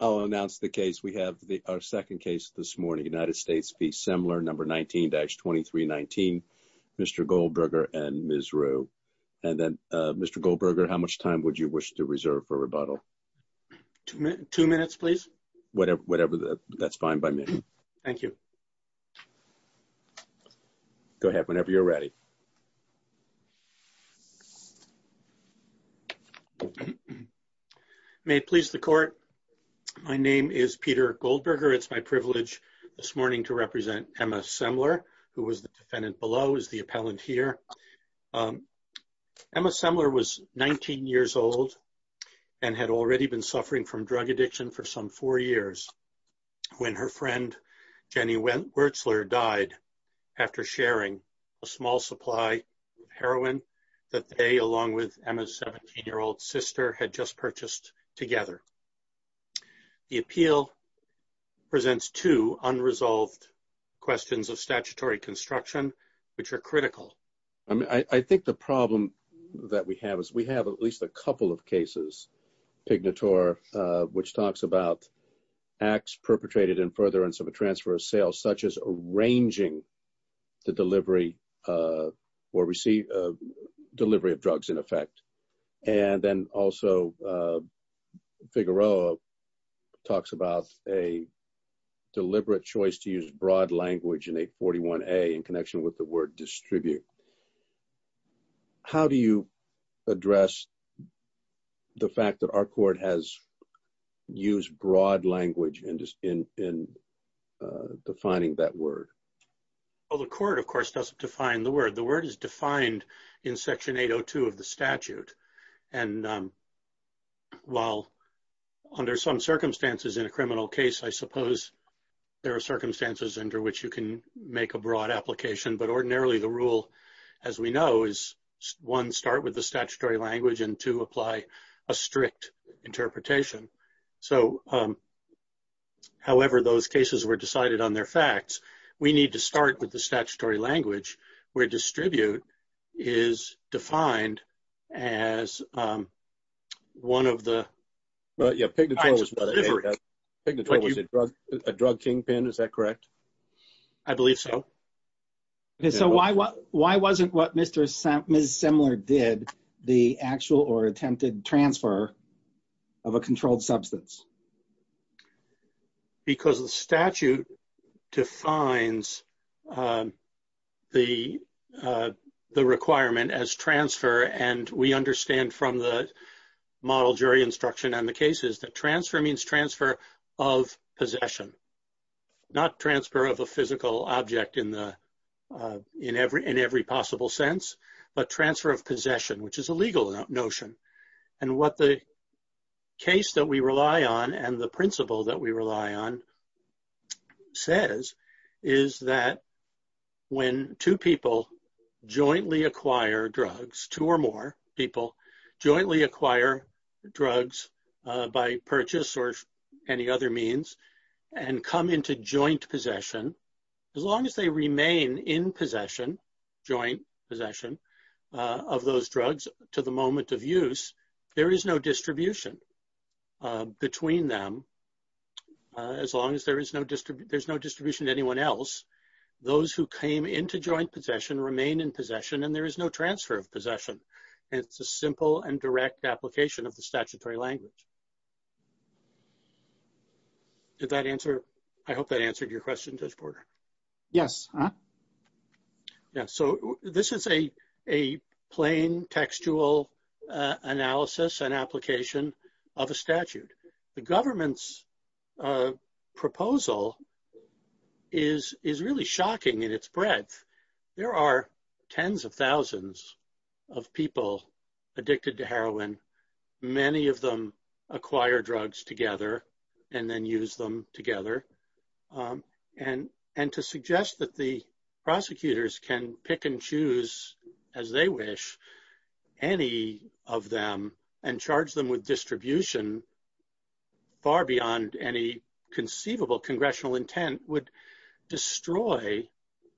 I'll announce the case. We have the second case this morning. United States v. Semler, number 19-2319, Mr. Goldberger and Ms. Rue. And then, Mr. Goldberger, how much time would you wish to reserve for rebuttal? Two minutes, please. Whatever, that's fine by me. Go ahead, whenever you're ready. May it please the court, my name is Peter Goldberger. It's my privilege this morning to represent Emma Semler, who was the defendant below, is the appellant here. Emma Semler was 19 years old and had already been suffering from drug addiction for some four years when her friend, Jenny Wertzler, died after sharing a small supply of heroin that they, along with Emma's 17-year-old sister, had just purchased together. The appeal presents two unresolved questions of statutory construction, which are critical. I think the problem that we have is we have at least a couple of cases, Pignatore, which talks about acts perpetrated in furtherance of a transfer of sales, such as arranging the delivery of drugs in effect. And then also, Figueroa talks about a deliberate choice to use broad language in 841A in connection with the word distribute. How do you address the fact that our court has used broad language in defining that word? Well, the court, of course, doesn't define the word. The word is defined in Section 802 of the statute. And while under some circumstances in a criminal case, I suppose there are circumstances under which you can make a broad application. But ordinarily, the rule, as we know, is one, start with the statutory language and two, apply a strict interpretation. So, however those cases were decided on their facts, we need to start with the statutory language where distribute is defined as one of the kinds of delivery. Pignatore was a drug kingpin, is that correct? I believe so. So, why wasn't what Ms. Semler did the actual or attempted transfer of a controlled substance? Because the statute defines the requirement as transfer and we understand from the model jury instruction on the cases that transfer means transfer of possession. Not transfer of a physical object in every possible sense, but transfer of possession, which is a legal notion. And what the case that we rely on and the principle that we rely on says is that when two people jointly acquire drugs, two or more people jointly acquire drugs by purchase or any other means and come into joint possession, as long as they remain in possession, joint possession of those drugs to the moment of use, there is no distribution between them as long as there is no distribution to anyone else. Those who came into joint possession remain in possession and there is no transfer of possession. It's a simple and direct application of the statutory language. Did that answer? I hope that answered your question, Judge Porter. Yes. So, this is a plain textual analysis and application of a statute. The government's proposal is really shocking in its breadth. There are tens of thousands of people addicted to heroin. Many of them acquire drugs together and then use them together. And to suggest that the prosecutors can pick and choose as they wish any of them and charge them with distribution far beyond any conceivable congressional intent would destroy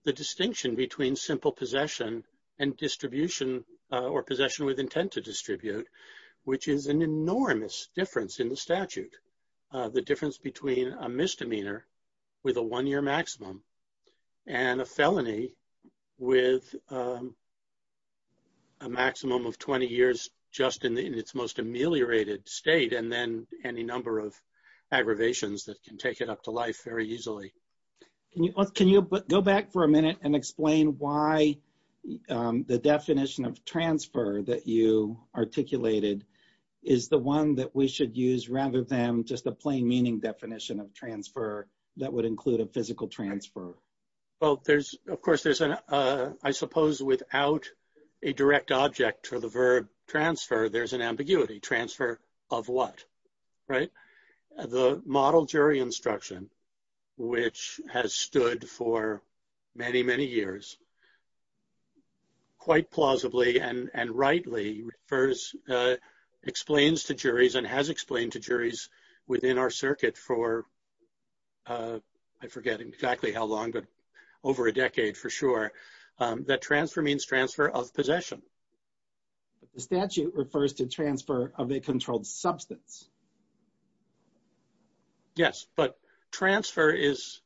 the distinction between simple possession and distribution or possession with intent to distribute, which is an enormous difference in the statute. The difference between a misdemeanor with a one-year maximum and a felony with a maximum of 20 years just in its most ameliorated state and then any number of aggravations that can take it up to life very easily. Can you go back for a minute and explain why the definition of transfer that you articulated is the one that we should use rather than just a plain meaning definition of transfer that would include a physical transfer? Well, of course, I suppose without a direct object to the verb transfer, there's an ambiguity. Transfer of what? Right? The model jury instruction, which has stood for many, many years, quite plausibly and rightly explains to juries and has explained to juries within our circuit for, I forget exactly how long, but over a decade for sure, that transfer means transfer of possession. The statute refers to transfer of a controlled substance. Yes, but transfer is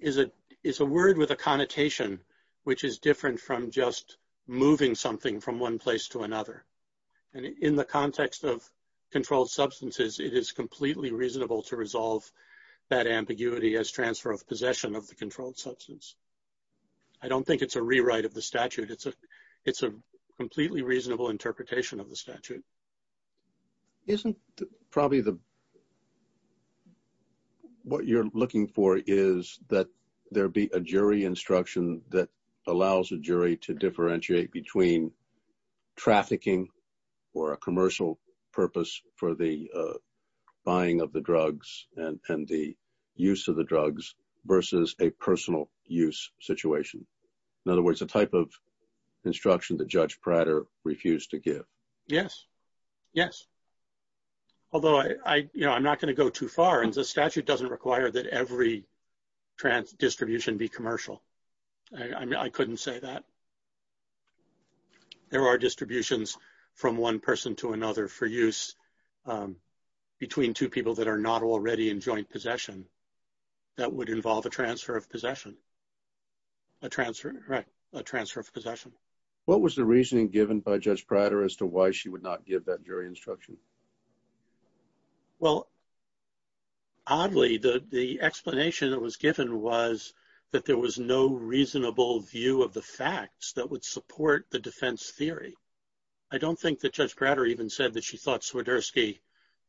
a word with a connotation, which is different from just moving something from one place to another. And in the context of controlled substances, it is completely reasonable to resolve that ambiguity as transfer of possession of the controlled substance. I don't think it's a rewrite of the statute. It's a completely reasonable interpretation of the statute. Isn't probably what you're looking for is that there be a jury instruction that allows a jury to differentiate between trafficking or a commercial purpose for the buying of the drugs and the use of the drugs versus a personal use situation? In other words, the type of instruction that Judge Prater refused to give. Yes, yes. Although I, you know, I'm not going to go too far and the statute doesn't require that every trans distribution be commercial. I mean, I couldn't say that. There are distributions from one person to another for use between two people that are not already in joint possession. That would involve a transfer of possession. A transfer of possession. What was the reasoning given by Judge Prater as to why she would not give that jury instruction? Well, oddly, the explanation that was given was that there was no reasonable view of the facts that would support the defense theory. I don't think that Judge Prater even said that she thought Swiderski,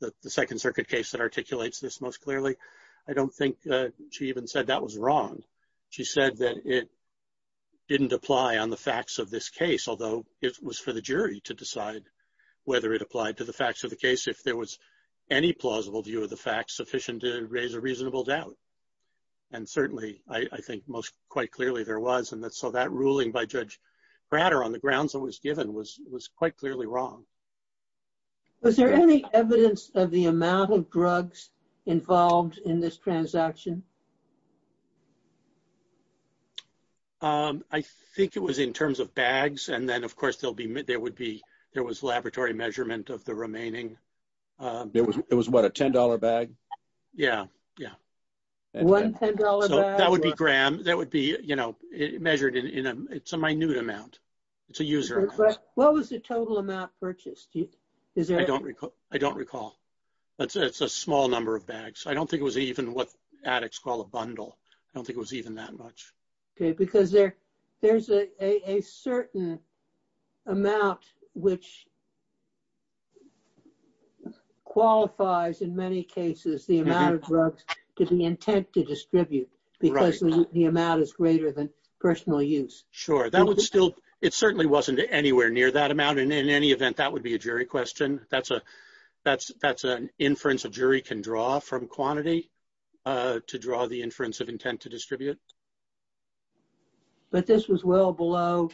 the Second Circuit case that articulates this most clearly. I don't think she even said that was wrong. She said that it didn't apply on the facts of this case, although it was for the jury to decide whether it applied to the facts of the case if there was any plausible view of the facts sufficient to raise a reasonable doubt. And certainly, I think most quite clearly there was. And so that ruling by Judge Prater on the grounds that was given was quite clearly wrong. Was there any evidence of the amount of drugs involved in this transaction? I think it was in terms of bags. And then, of course, there would be there was laboratory measurement of the remaining. It was what, a $10 bag? Yeah, yeah. One $10 bag? That would be gram. That would be measured in a minute amount. It's a user amount. What was the total amount purchased? I don't recall. It's a small number of bags. I don't think it was even what addicts call a bundle. I don't think it was even that much. Because there's a certain amount which qualifies, in many cases, the amount of drugs to be intent to distribute because the amount is greater than personal use. Sure. It certainly wasn't anywhere near that amount. And in any event, that would be a jury question. That's an inference a jury can draw from quantity to draw the inference of intent to distribute. But this was well below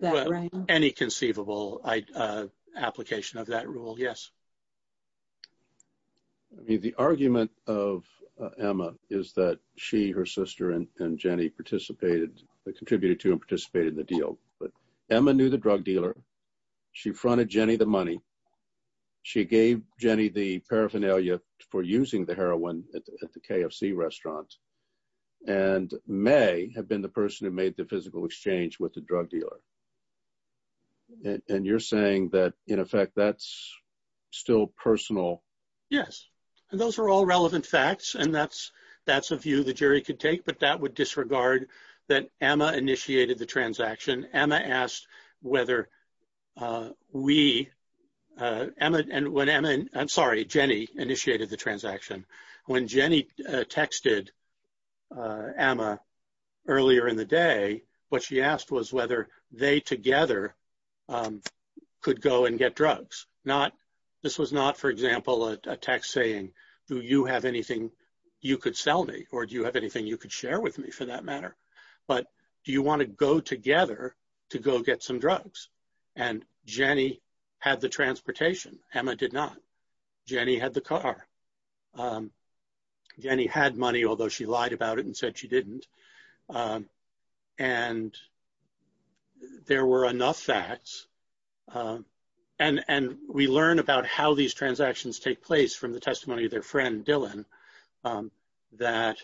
that range. Well, any conceivable application of that rule, yes. The argument of Emma is that she, her sister, and Jenny contributed to and participated in the deal. But Emma knew the drug dealer. She fronted Jenny the money. She gave Jenny the paraphernalia for using the heroin at the KFC restaurant. And May had been the person who made the physical exchange with the drug dealer. And you're saying that, in effect, that's still personal. Yes. And those are all relevant facts. And that's a view the jury could take. But that would disregard that Emma initiated the transaction. Emma asked whether we, Emma, and when Emma, I'm sorry, Jenny initiated the transaction. When Jenny texted Emma earlier in the day, what she asked was whether they together could go and get drugs. Not, this was not, for example, a text saying, do you have anything you could sell me? Or do you have anything you could share with me, for that matter? But do you want to go together to go get some drugs? And Jenny had the transportation. Emma did not. Jenny had the car. Jenny had money, although she lied about it and said she didn't. And there were enough facts. And we learn about how these transactions take place from the testimony of their friend, Dylan, that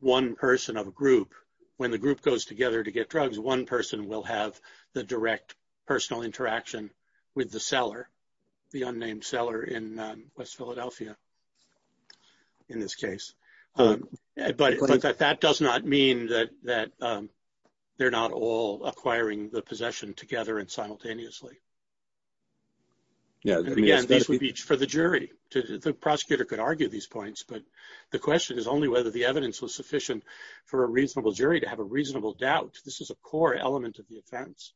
one person of a group, when the group goes together to get drugs, one person will have the direct personal interaction with the seller, the unnamed seller in West Philadelphia, in this case. But that does not mean that they're not all acquiring the possession together and simultaneously. Again, this would be for the jury. The prosecutor could argue these points, but the question is only whether the evidence was sufficient for a reasonable jury to have a reasonable doubt. This is a core element of the offense.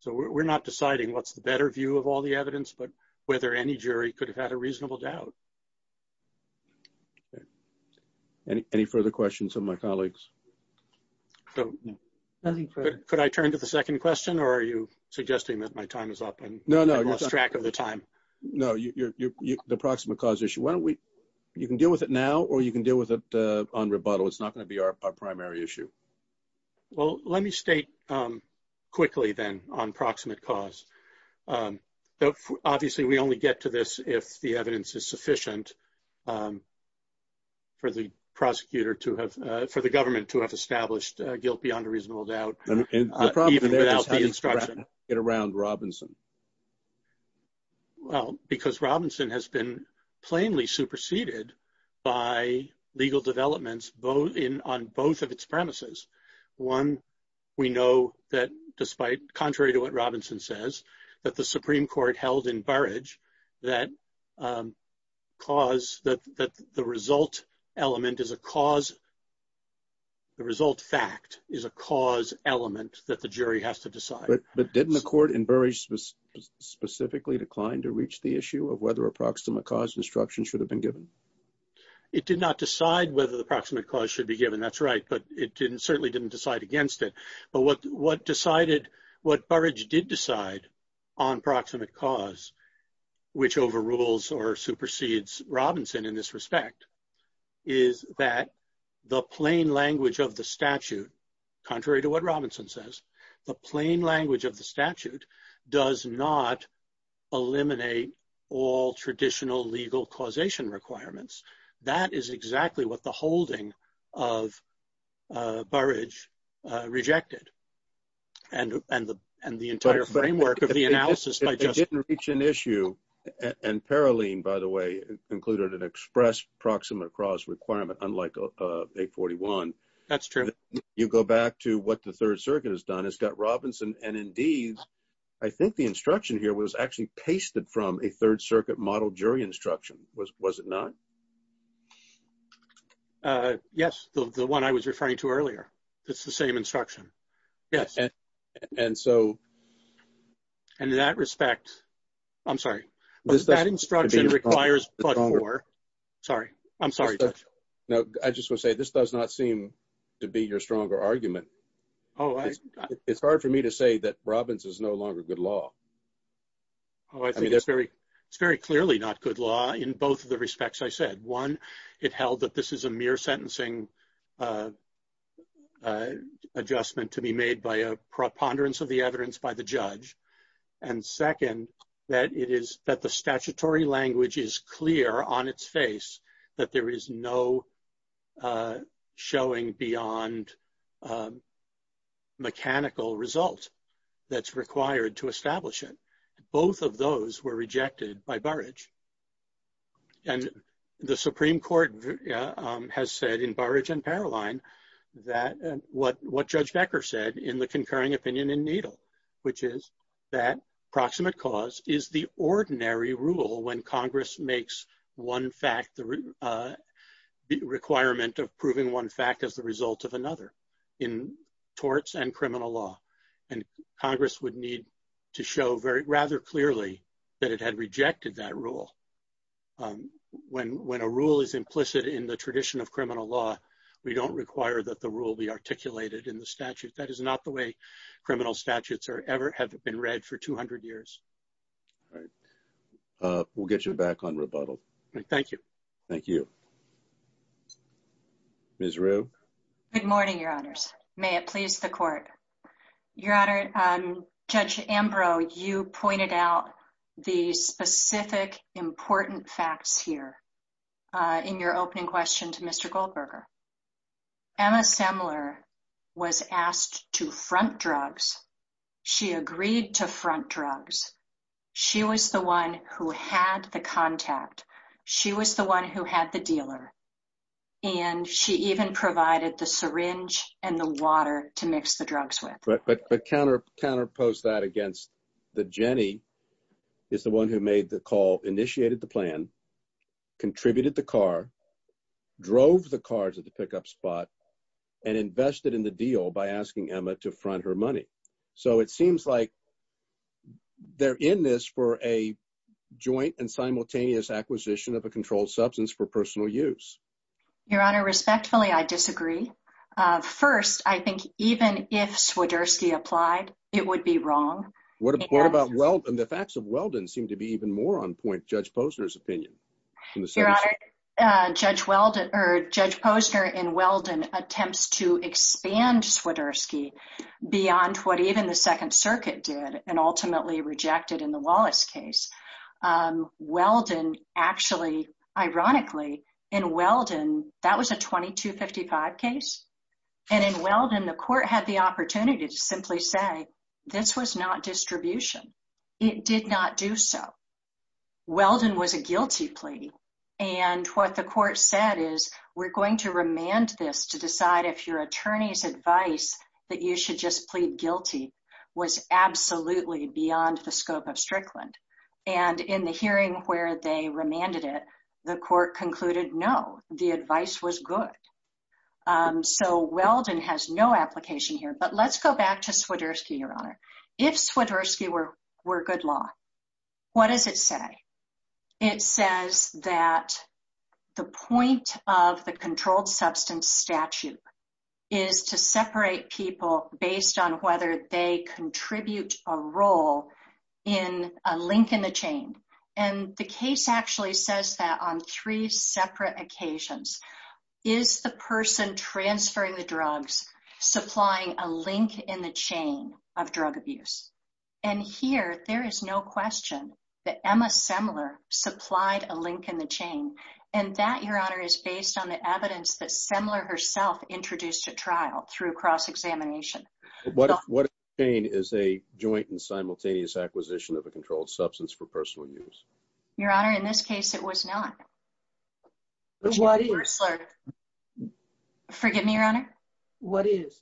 So we're not deciding what's the better view of all the evidence, but whether any jury could have had a reasonable doubt. Any further questions of my colleagues? Could I turn to the second question, or are you suggesting that my time is up? No, no. I lost track of the time. No, the proximate cause issue. You can deal with it now or you can deal with it on rebuttal. It's not going to be our primary issue. Well, let me state quickly then on proximate cause. Obviously, we only get to this if the evidence is sufficient for the prosecutor to have, for the government to have established guilt beyond a reasonable doubt, even without the instruction. The problem there is how do you wrap it around Robinson? Well, because Robinson has been plainly superseded by legal developments on both of its premises. One, we know that despite, contrary to what Robinson says, that the Supreme Court held in Burrage that cause, that the result element is a cause, the result fact is a cause element that the jury has to decide. But didn't the court in Burrage specifically decline to reach the issue of whether a proximate cause instruction should have been given? It did not decide whether the proximate cause should be given. That's right, but it certainly didn't decide against it. But what decided, what Burrage did decide on proximate cause, which overrules or supersedes Robinson in this respect, is that the plain language of the statute, contrary to what Robinson says, the plain language of the statute does not eliminate all traditional legal causation requirements. That is exactly what the holding of Burrage rejected and the entire framework of the analysis by justice. It didn't reach an issue, and Paroline, by the way, included an express proximate cause requirement, unlike 841. That's true. You go back to what the Third Circuit has done. It's got Robinson, and indeed, I think the instruction here was actually pasted from a Third Circuit model jury instruction, was it not? Yes, the one I was referring to earlier. It's the same instruction. And in that respect, I'm sorry, that instruction requires but-for. Sorry, I'm sorry, Judge. No, I just want to say this does not seem to be your stronger argument. It's hard for me to say that Robins is no longer good law. Oh, I think it's very clearly not good law in both of the respects I said. One, it held that this is a mere sentencing adjustment to be made by a preponderance of the evidence by the judge. And second, that the statutory language is clear on its face that there is no showing beyond mechanical result that's required to establish it. Both of those were rejected by Burrage. And the Supreme Court has said in Burrage and Paroline that what Judge Becker said in the concurring opinion in Needle, which is that proximate cause is the ordinary rule when Congress makes one fact the requirement of proving one fact as the result of another in torts and criminal law. And Congress would need to show very rather clearly that it had rejected that rule. When when a rule is implicit in the tradition of criminal law, we don't require that the rule be articulated in the statute. That is not the way criminal statutes are ever have been read for 200 years. We'll get you back on rebuttal. Thank you. Thank you. Ms. Rue. Good morning, Your Honors. May it please the court. Your Honor, Judge Ambrose, you pointed out the specific important facts here in your opening question to Mr. Goldberger. Emma Semler was asked to front drugs. She agreed to front drugs. She was the one who had the contact. She was the one who had the dealer. And she even provided the syringe and the water to mix the drugs with. But the counter counter post that against the Jenny is the one who made the call, initiated the plan, contributed the car, drove the cars at the pickup spot and invested in the deal by asking Emma to front her money. So it seems like they're in this for a joint and simultaneous acquisition of a controlled substance for personal use. Your Honor, respectfully, I disagree. First, I think even if Swiderski applied, it would be wrong. What about. Well, the facts of Weldon seem to be even more on point. Your Honor, Judge Weldon or Judge Posner in Weldon attempts to expand Swiderski beyond what even the Second Circuit did and ultimately rejected in the Wallace case. Weldon actually, ironically, in Weldon, that was a twenty two fifty five case. And in Weldon, the court had the opportunity to simply say this was not distribution. It did not do so. Weldon was a guilty plea. And what the court said is we're going to remand this to decide if your attorney's advice that you should just plead guilty was absolutely beyond the scope of Strickland. And in the hearing where they remanded it, the court concluded, no, the advice was good. So Weldon has no application here. But let's go back to Swiderski, Your Honor. If Swiderski were good law, what does it say? It says that the point of the controlled substance statute is to separate people based on whether they contribute a role in a link in the chain. And the case actually says that on three separate occasions is the person transferring the drugs, supplying a link in the chain of drug abuse. And here there is no question that Emma Semler supplied a link in the chain. And that, Your Honor, is based on the evidence that Semler herself introduced at trial through cross-examination. What if the chain is a joint and simultaneous acquisition of a controlled substance for personal use? Your Honor, in this case, it was not. What is? Forgive me, Your Honor. What is?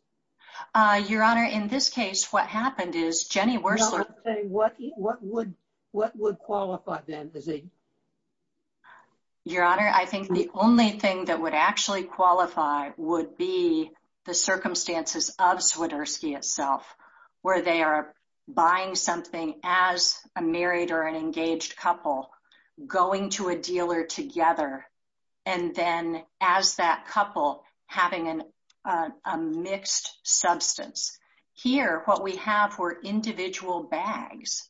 Your Honor, in this case, what happened is Jenny Wersler What would qualify then? Your Honor, I think the only thing that would actually qualify would be the circumstances of Swiderski itself, where they are buying something as a married or an engaged couple going to a dealer together. And then as that couple having a mixed substance. Here, what we have were individual bags.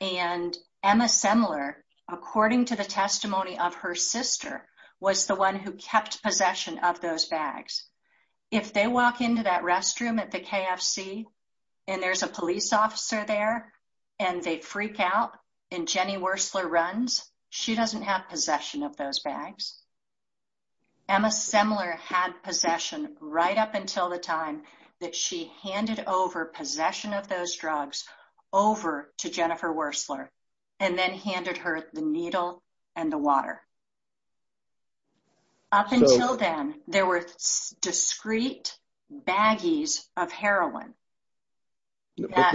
And Emma Semler, according to the testimony of her sister, was the one who kept possession of those bags. If they walk into that restroom at the KFC and there's a police officer there and they freak out and Jenny Wersler runs, she doesn't have possession of those bags. Emma Semler had possession right up until the time that she handed over possession of those drugs over to Jennifer Wersler and then handed her the needle and the water. Up until then, there were discrete baggies of heroin.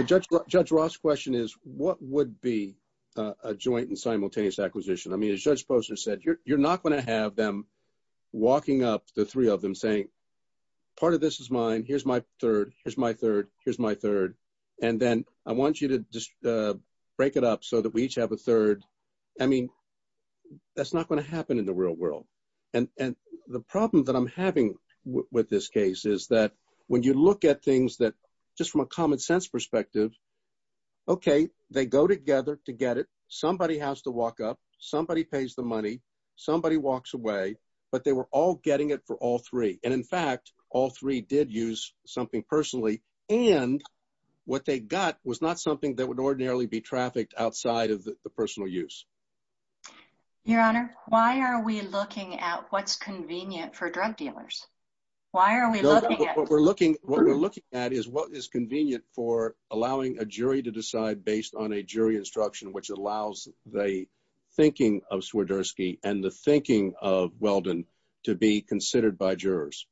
Judge Ross' question is, what would be a joint and simultaneous acquisition? I mean, as Judge Posner said, you're not going to have them walking up, the three of them, saying, part of this is mine. Here's my third. Here's my third. Here's my third. And then I want you to just break it up so that we each have a third. I mean, that's not going to happen in the real world. And the problem that I'm having with this case is that when you look at things that, just from a common sense perspective, okay, they go together to get it. Somebody has to walk up. Somebody pays the money. Somebody walks away. But they were all getting it for all three. And, in fact, all three did use something personally. And what they got was not something that would ordinarily be trafficked outside of the personal use. Your Honor, why are we looking at what's convenient for drug dealers? Why are we looking at? What we're looking at is what is convenient for allowing a jury to decide based on a jury instruction which allows the thinking of Swiderski and the thinking of Weldon to be considered by jurors.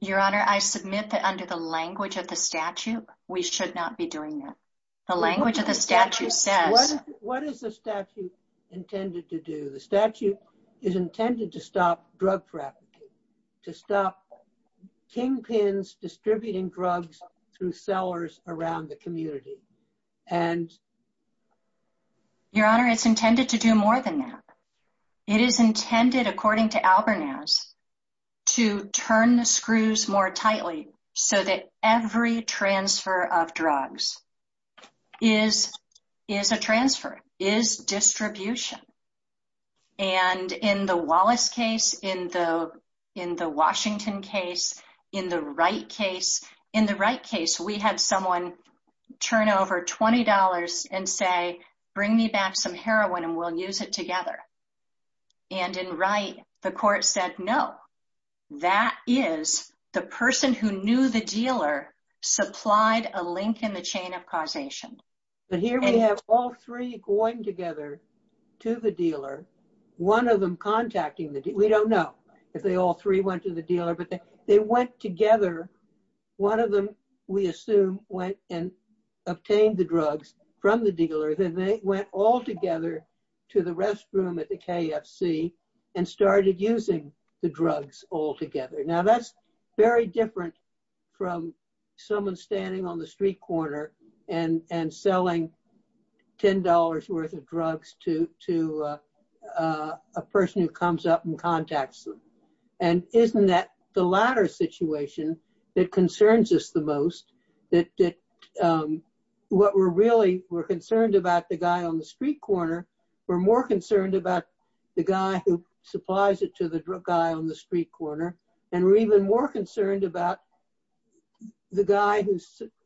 Your Honor, I submit that under the language of the statute, we should not be doing that. The language of the statute says. What is the statute intended to do? The statute is intended to stop drug trafficking, to stop kingpins distributing drugs through sellers around the community. And. Your Honor, it's intended to do more than that. It is intended, according to Albernaz, to turn the screws more tightly so that every transfer of drugs is a transfer, is distribution. And in the Wallace case, in the Washington case, in the Wright case, in the Wright case, we had someone turn over $20 and say, bring me back some heroin and we'll use it together. And in Wright, the court said no. That is the person who knew the dealer supplied a link in the chain of causation. But here we have all three going together to the dealer. One of them contacting the dealer. We don't know if they all three went to the dealer, but they went together. One of them, we assume, went and obtained the drugs from the dealer. Then they went all together to the restroom at the KFC and started using the drugs all together. Now, that's very different from someone standing on the street corner and selling $10 worth of drugs to a person who comes up and contacts them. And isn't that the latter situation that concerns us the most? That what we're really concerned about the guy on the street corner, we're more concerned about the guy who supplies it to the guy on the street corner. And we're even more concerned about the guy who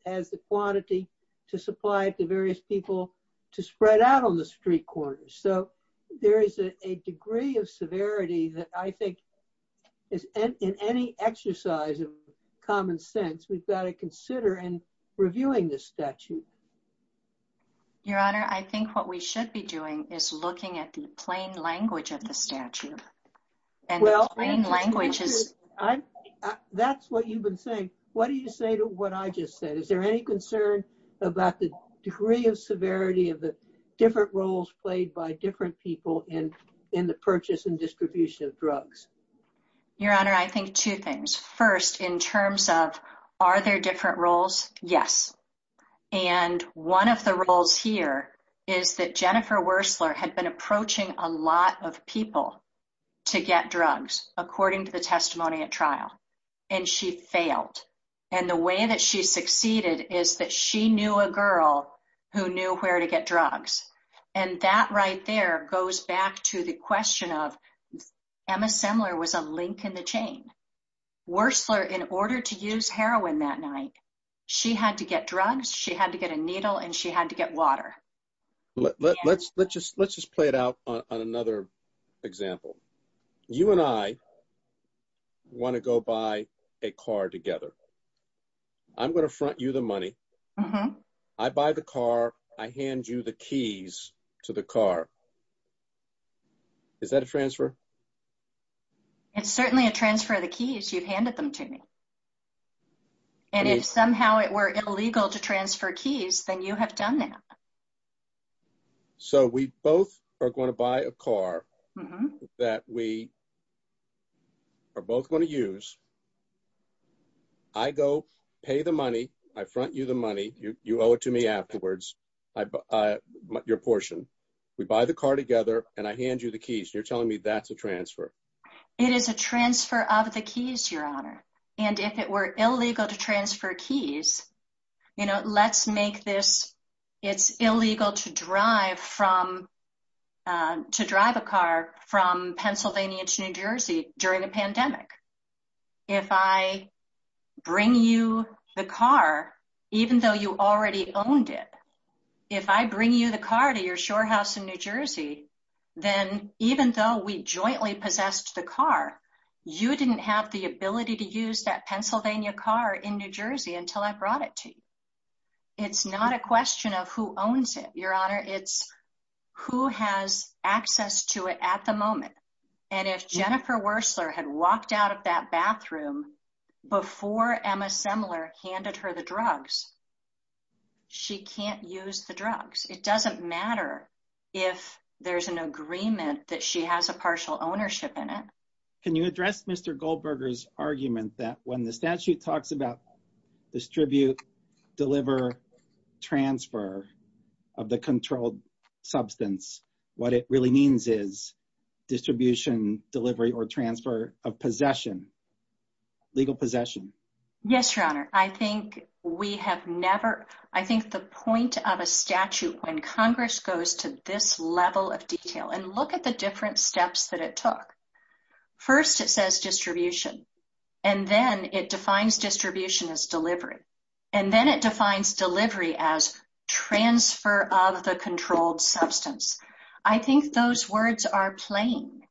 has the quantity to supply it to various people to spread out on the street corner. So there is a degree of severity that I think is in any exercise of common sense. We've got to consider in reviewing this statute. Your Honor, I think what we should be doing is looking at the plain language of the statute. That's what you've been saying. What do you say to what I just said? Is there any concern about the degree of severity of the different roles played by different people in the purchase and distribution of drugs? Your Honor, I think two things. First, in terms of, are there different roles? Yes. And one of the roles here is that Jennifer Wurstler had been approaching a lot of people to get drugs, according to the testimony at trial. And she failed. And the way that she succeeded is that she knew a girl who knew where to get drugs. And that right there goes back to the question of Emma Semler was a link in the chain. Wurstler, in order to use heroin that night, she had to get drugs, she had to get a needle, and she had to get water. Let's just play it out on another example. You and I want to go buy a car together. I'm going to front you the money. I buy the car. I hand you the keys to the car. Is that a transfer? It's certainly a transfer of the keys you've handed them to me. And if somehow it were illegal to transfer keys, then you have done that. So we both are going to buy a car that we are both going to use. I go pay the money. I front you the money. You owe it to me afterwards. I buy your portion. We buy the car together, and I hand you the keys. You're telling me that's a transfer. It is a transfer of the keys, Your Honor. And if it were illegal to transfer keys, you know, let's make this, it's illegal to drive from, to drive a car from Pennsylvania to New Jersey during a pandemic. If I bring you the car, even though you already owned it, if I bring you the car to your shore house in New Jersey, then even though we jointly possessed the car, you didn't have the ability to use that Pennsylvania car in New Jersey until I brought it to you. It's not a question of who owns it, Your Honor. It's who has access to it at the moment. And if Jennifer Wurstler had walked out of that bathroom before Emma Semler handed her the drugs, she can't use the drugs. It doesn't matter if there's an agreement that she has a partial ownership in it. Can you address Mr. Goldberger's argument that when the statute talks about distribute, deliver, transfer of the controlled substance, what it really means is distribution, delivery, or transfer of possession, legal possession? Yes, Your Honor. I think we have never, I think the point of a statute when Congress goes to this level of detail, and look at the different steps that it took. First, it says distribution. And then it defines distribution as delivery. And then it defines delivery as transfer of the controlled substance. I think those words are plain.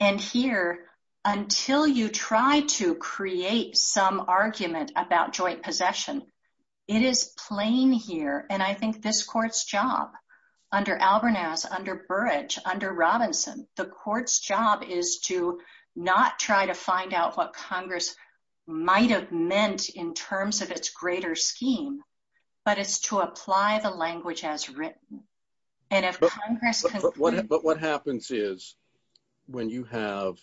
And here, until you try to create some argument about joint possession, it is plain here. And I think this court's job under Albernaz, under Burrage, under Robinson, the court's job is to not try to find out what Congress might have meant in terms of its greater scheme, but it's to apply the language as written. But what happens is, when you have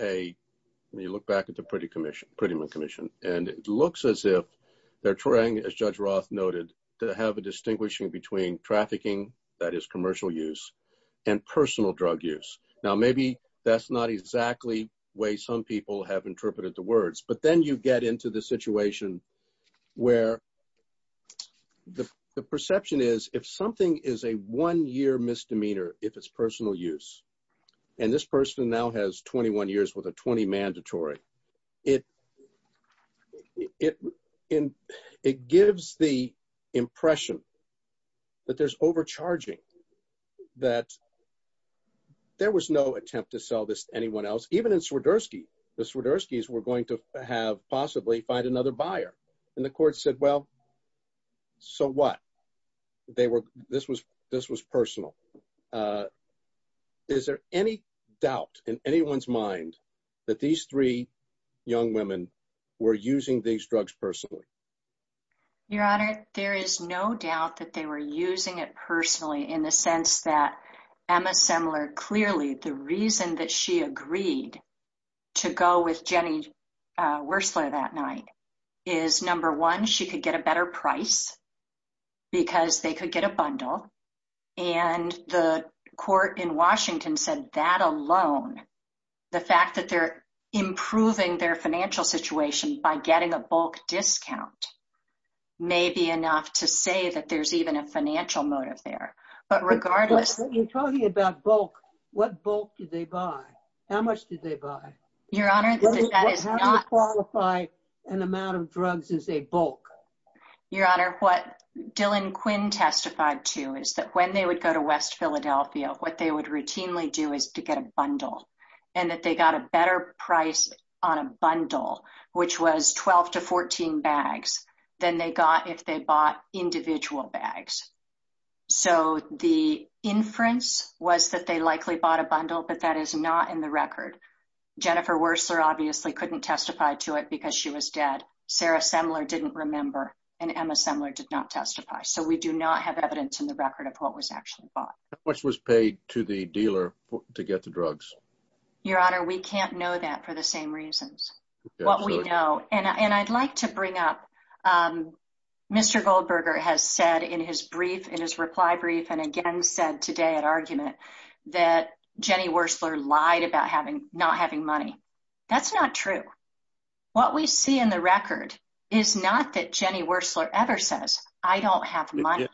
a, when you look back at the Prettyman Commission, and it looks as if they're trying, as Judge Roth noted, to have a distinguishing between trafficking, that is commercial use, and personal drug use. Now, maybe that's not exactly the way some people have interpreted the words, but then you get into the situation where the perception is, if something is a one-year misdemeanor, if it's personal use, and this person now has 21 years with a 20 mandatory, it gives the impression that there's overcharging, that there was no attempt to sell this to anyone else, even in Swiderski. The Swiderskis were going to have, possibly, find another buyer. And the court said, well, so what? This was personal. Is there any doubt in anyone's mind that these three young women were using these drugs personally? Your Honor, there is no doubt that they were using it personally, in the sense that Emma Semler, clearly, the reason that she agreed to go with Jenny Wurstler that night is, number one, she could get a better price, because they could get a bundle. And the court in Washington said that alone, the fact that they're improving their financial situation by getting a bulk discount, may be enough to say that there's even a financial motive there. But regardless... But you're talking about bulk. What bulk did they buy? How much did they buy? Your Honor, that is not... How do you qualify an amount of drugs as a bulk? Your Honor, what Dylan Quinn testified to is that when they would go to West Philadelphia, what they would routinely do is to get a bundle. And that they got a better price on a bundle, which was 12 to 14 bags, than they got if they bought individual bags. So, the inference was that they likely bought a bundle, but that is not in the record. Jennifer Wurstler, obviously, couldn't testify to it because she was dead. Sarah Semler didn't remember. And Emma Semler did not testify. So, we do not have evidence in the record of what was actually bought. How much was paid to the dealer to get the drugs? Your Honor, we can't know that for the same reasons. What we know... And I'd like to bring up, Mr. Goldberger has said in his brief, in his reply brief, and again said today at argument, that Jenny Wurstler lied about not having money. That's not true. What we see in the record is not that Jenny Wurstler ever says, I don't have money.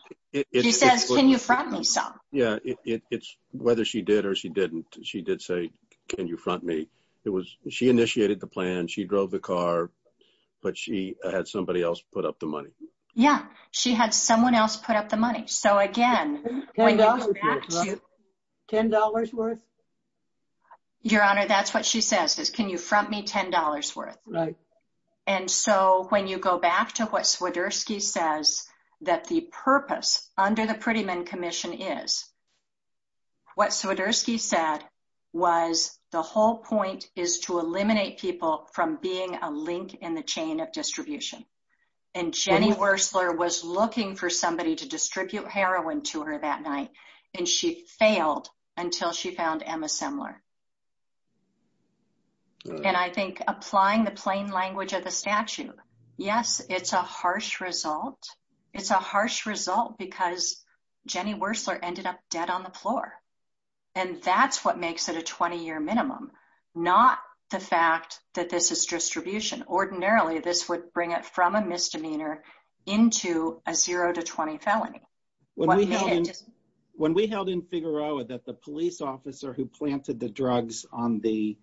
She says, can you front me some? Yeah. Whether she did or she didn't, she did say, can you front me? She initiated the plan. She drove the car. But she had somebody else put up the money. Yeah. She had someone else put up the money. So, again... $10 worth? Your Honor, that's what she says, is can you front me $10 worth? Right. And so, when you go back to what Swiderski says, that the purpose under the Prettyman Commission is, what Swiderski said was the whole point is to eliminate people from being a link in the chain of distribution. And Jenny Wurstler was looking for somebody to distribute heroin to her that night. And she failed until she found Emma Semler. And I think applying the plain language of the statute, yes, it's a harsh result. It's a harsh result because Jenny Wurstler ended up dead on the floor. And that's what makes it a 20-year minimum. Not the fact that this is distribution. Ordinarily, this would bring it from a misdemeanor into a 0-20 felony. When we held in Figueroa that the police officer who planted the drugs on the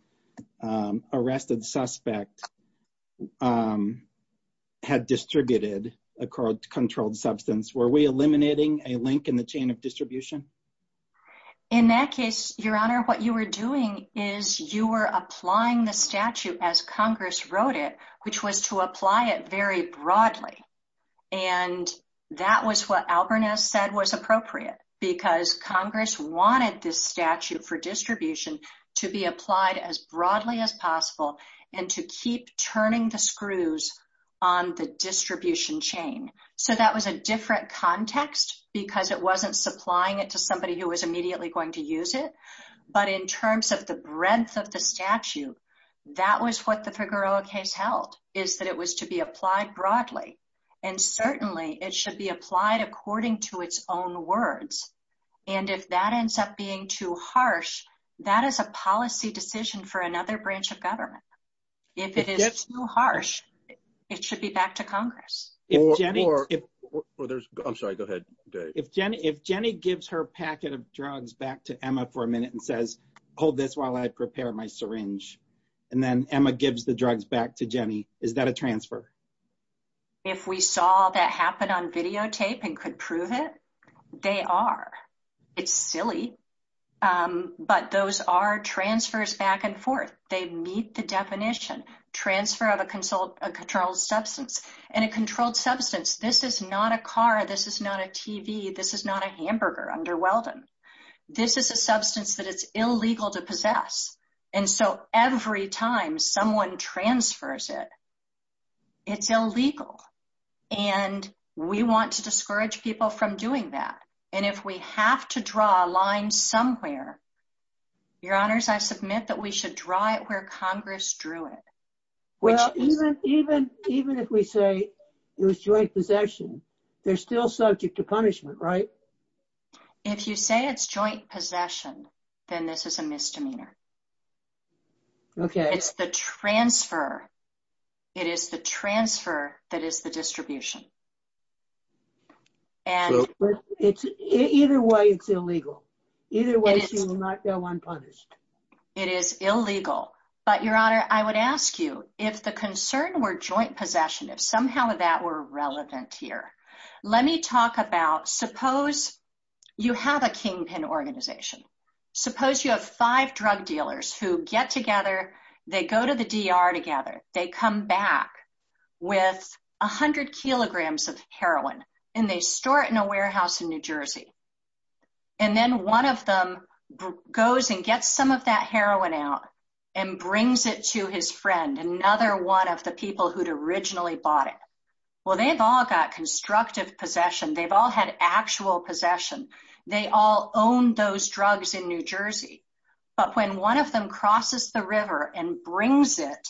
arrested suspect had distributed a controlled substance, were we eliminating a link in the chain of distribution? In that case, Your Honor, what you were doing is you were applying the statute as Congress wrote it, which was to apply it very broadly. And that was what Alberniz said was appropriate because Congress wanted this statute for distribution to be applied as broadly as possible and to keep turning the screws on the distribution chain. So that was a different context because it wasn't supplying it to somebody who was immediately going to use it. But in terms of the breadth of the statute, that was what the Figueroa case held, is that it was to be applied broadly. And certainly, it should be applied according to its own words. And if that ends up being too harsh, that is a policy decision for another branch of government. If it is too harsh, it should be back to Congress. If Jenny gives her packet of drugs back to Emma for a minute and says, hold this while I prepare my syringe, and then Emma gives the drugs back to Jenny, is that a transfer? If we saw that happen on videotape and could prove it, they are. It's silly, but those are transfers back and forth. They meet the definition, transfer of a controlled substance. And a controlled substance, this is not a car. This is not a TV. This is not a hamburger under Weldon. This is a substance that is illegal to possess. And so every time someone transfers it, it's illegal. And we want to discourage people from doing that. And if we have to draw a line somewhere, Your Honors, I submit that we should draw it where Congress drew it. Well, even if we say it was joint possession, they're still subject to punishment, right? If you say it's joint possession, then this is a misdemeanor. Okay. It's the transfer. It is the transfer that is the distribution. Either way, it's illegal. Either way, she will not go unpunished. It is illegal. But, Your Honor, I would ask you, if the concern were joint possession, if somehow that were relevant here, let me talk about suppose you have a kingpin organization. Suppose you have five drug dealers who get together. They go to the DR together. They come back with 100 kilograms of heroin, and they store it in a warehouse in New Jersey. And then one of them goes and gets some of that heroin out and brings it to his friend, another one of the people who'd originally bought it. Well, they've all got constructive possession. They've all had actual possession. They all own those drugs in New Jersey. But when one of them crosses the river and brings it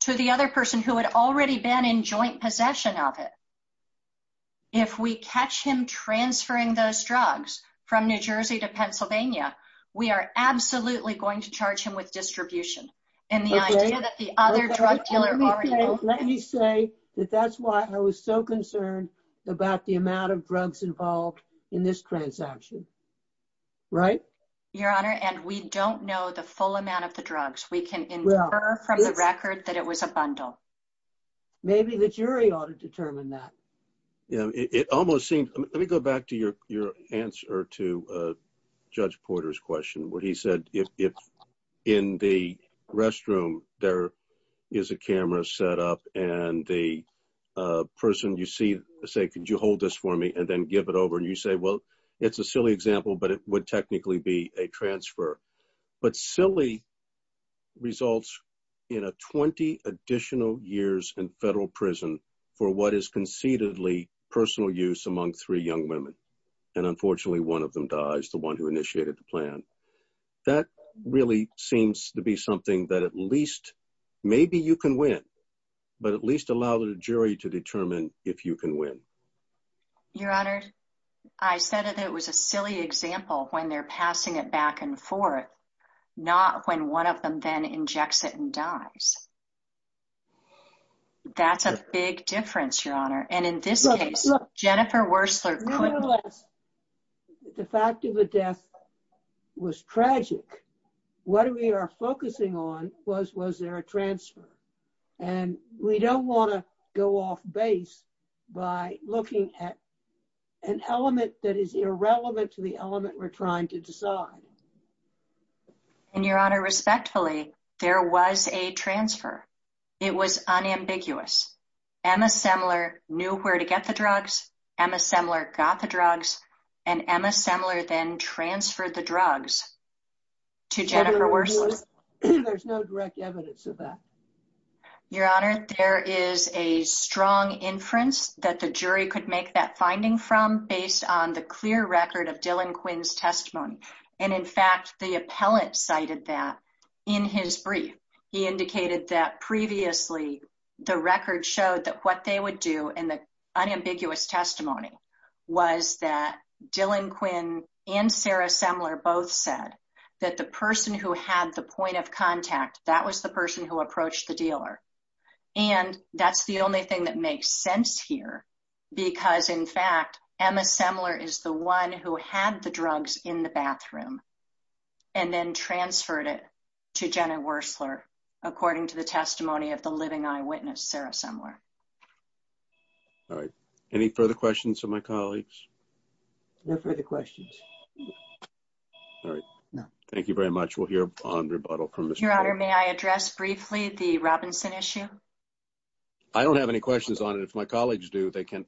to the other person who had already been in joint possession of it, if we catch him transferring those drugs from New Jersey to Pennsylvania, we are absolutely going to charge him with distribution. Let me say that that's why I was so concerned about the amount of drugs involved in this transaction. Right? Your Honor, and we don't know the full amount of the drugs. We can infer from the record that it was a bundle. Maybe the jury ought to determine that. Let me go back to your answer to Judge Porter's question where he said if in the restroom there is a camera set up and the person you see say, could you hold this for me and then give it over? And you say, well, it's a silly example, but it would technically be a transfer. But silly results in a 20 additional years in federal prison for what is concededly personal use among three young women. And unfortunately, one of them dies, the one who initiated the plan. That really seems to be something that at least maybe you can win, but at least allow the jury to determine if you can win. Your Honor, I said it was a silly example when they're passing it back and forth, not when one of them then injects it and dies. That's a big difference, Your Honor. And in this case, Jennifer Wurstler couldn't. Nevertheless, the fact of the death was tragic. What we are focusing on was, was there a transfer? And we don't want to go off base by looking at an element that is irrelevant to the element we're trying to decide. And Your Honor, respectfully, there was a transfer. It was unambiguous. Emma Semler knew where to get the drugs. Emma Semler got the drugs. And Emma Semler then transferred the drugs to Jennifer Wurstler. There's no direct evidence of that. Your Honor, there is a strong inference that the jury could make that finding from based on the clear record of Dylan Quinn's testimony. And in fact, the appellant cited that in his brief. He indicated that previously the record showed that what they would do in the unambiguous testimony was that Dylan Quinn and Sarah Semler both said that the person who had the point of contact, that was the person who approached the dealer. And that's the only thing that makes sense here. Because, in fact, Emma Semler is the one who had the drugs in the bathroom. And then transferred it to Jennifer Wurstler, according to the testimony of the living eyewitness, Sarah Semler. All right. Any further questions of my colleagues? No further questions. All right. Thank you very much. We'll hear on rebuttal from Mr. Goldberger. Your Honor, may I address briefly the Robinson issue? I don't have any questions on it. If my colleagues do, they can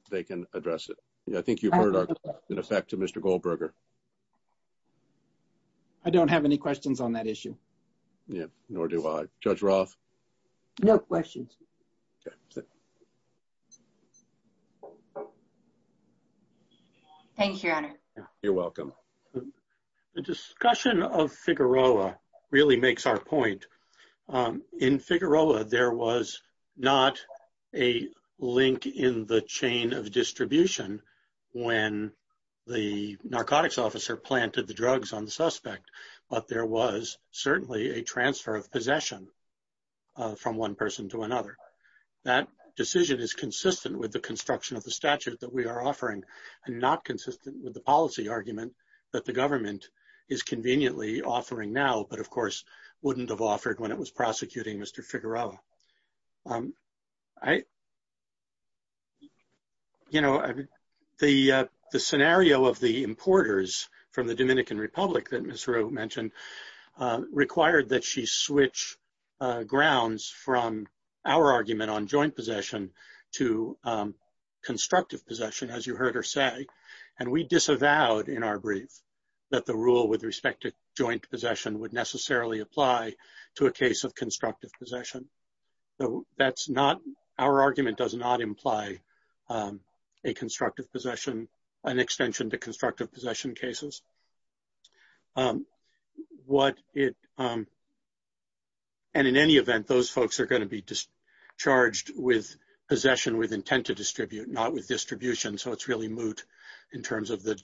address it. I think you've heard our comment in effect to Mr. Goldberger. I don't have any questions on that issue. Yeah, nor do I. Judge Roth? No questions. Thank you, Your Honor. You're welcome. The discussion of Figueroa really makes our point. In Figueroa, there was not a link in the chain of distribution when the narcotics officer planted the drugs on the suspect. But there was certainly a transfer of possession from one person to another. That decision is consistent with the construction of the statute that we are offering and not consistent with the policy argument that the government is conveniently offering now, but, of course, wouldn't have offered when it was prosecuting Mr. Figueroa. You know, the scenario of the importers from the Dominican Republic that Ms. Rue mentioned required that she switch grounds from our argument on joint possession to constructive possession, as you heard her say. And we disavowed in our brief that the rule with respect to joint possession would necessarily apply to a case of constructive possession. So that's not – our argument does not imply a constructive possession, an extension to constructive possession cases. What it – and in any event, those folks are going to be charged with possession with intent to distribute, not with distribution. So it's really moot in terms of the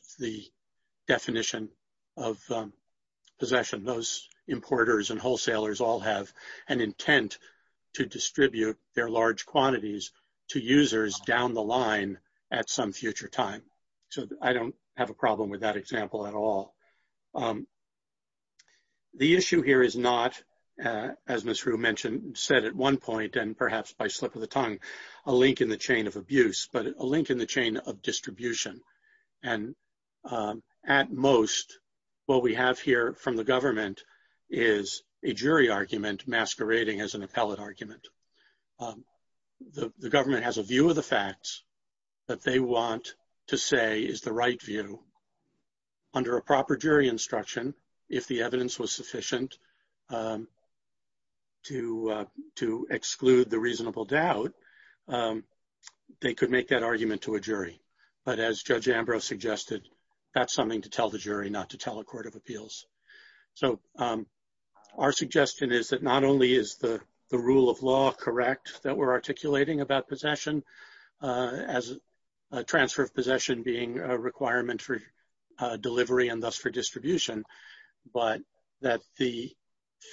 definition of possession. Those importers and wholesalers all have an intent to distribute their large quantities to users down the line at some future time. So I don't have a problem with that example at all. The issue here is not, as Ms. Rue mentioned, said at one point, and perhaps by slip of the tongue, a link in the chain of abuse, but a link in the chain of distribution. And at most, what we have here from the government is a jury argument masquerading as an appellate argument. The government has a view of the facts that they want to say is the right view. Under a proper jury instruction, if the evidence was sufficient to exclude the reasonable doubt, they could make that argument to a jury. But as Judge Ambrose suggested, that's something to tell the jury, not to tell a court of appeals. So our suggestion is that not only is the rule of law correct that we're articulating about possession, as a transfer of possession being a requirement for delivery and thus for distribution, but that the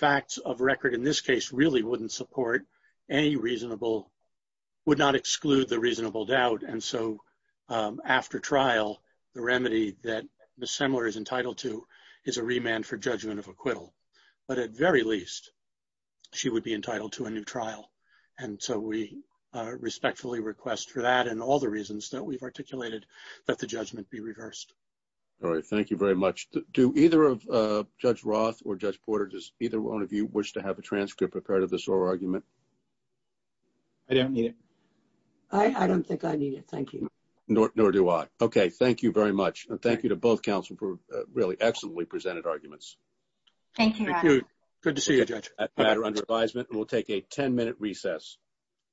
facts of record in this case really wouldn't support any reasonable, would not exclude the reasonable doubt. And so after trial, the remedy that Ms. Semler is entitled to is a remand for judgment of acquittal. But at very least, she would be entitled to a new trial. And so we respectfully request for that and all the reasons that we've articulated that the judgment be reversed. All right. Thank you very much. Do either of Judge Roth or Judge Porter, does either one of you wish to have a transcript of part of this oral argument? I don't need it. I don't think I need it. Thank you. Nor do I. Okay. Thank you very much. Thank you to both counsel for really excellently presented arguments. Thank you. Good to see you, Judge. We'll take a 10-minute recess.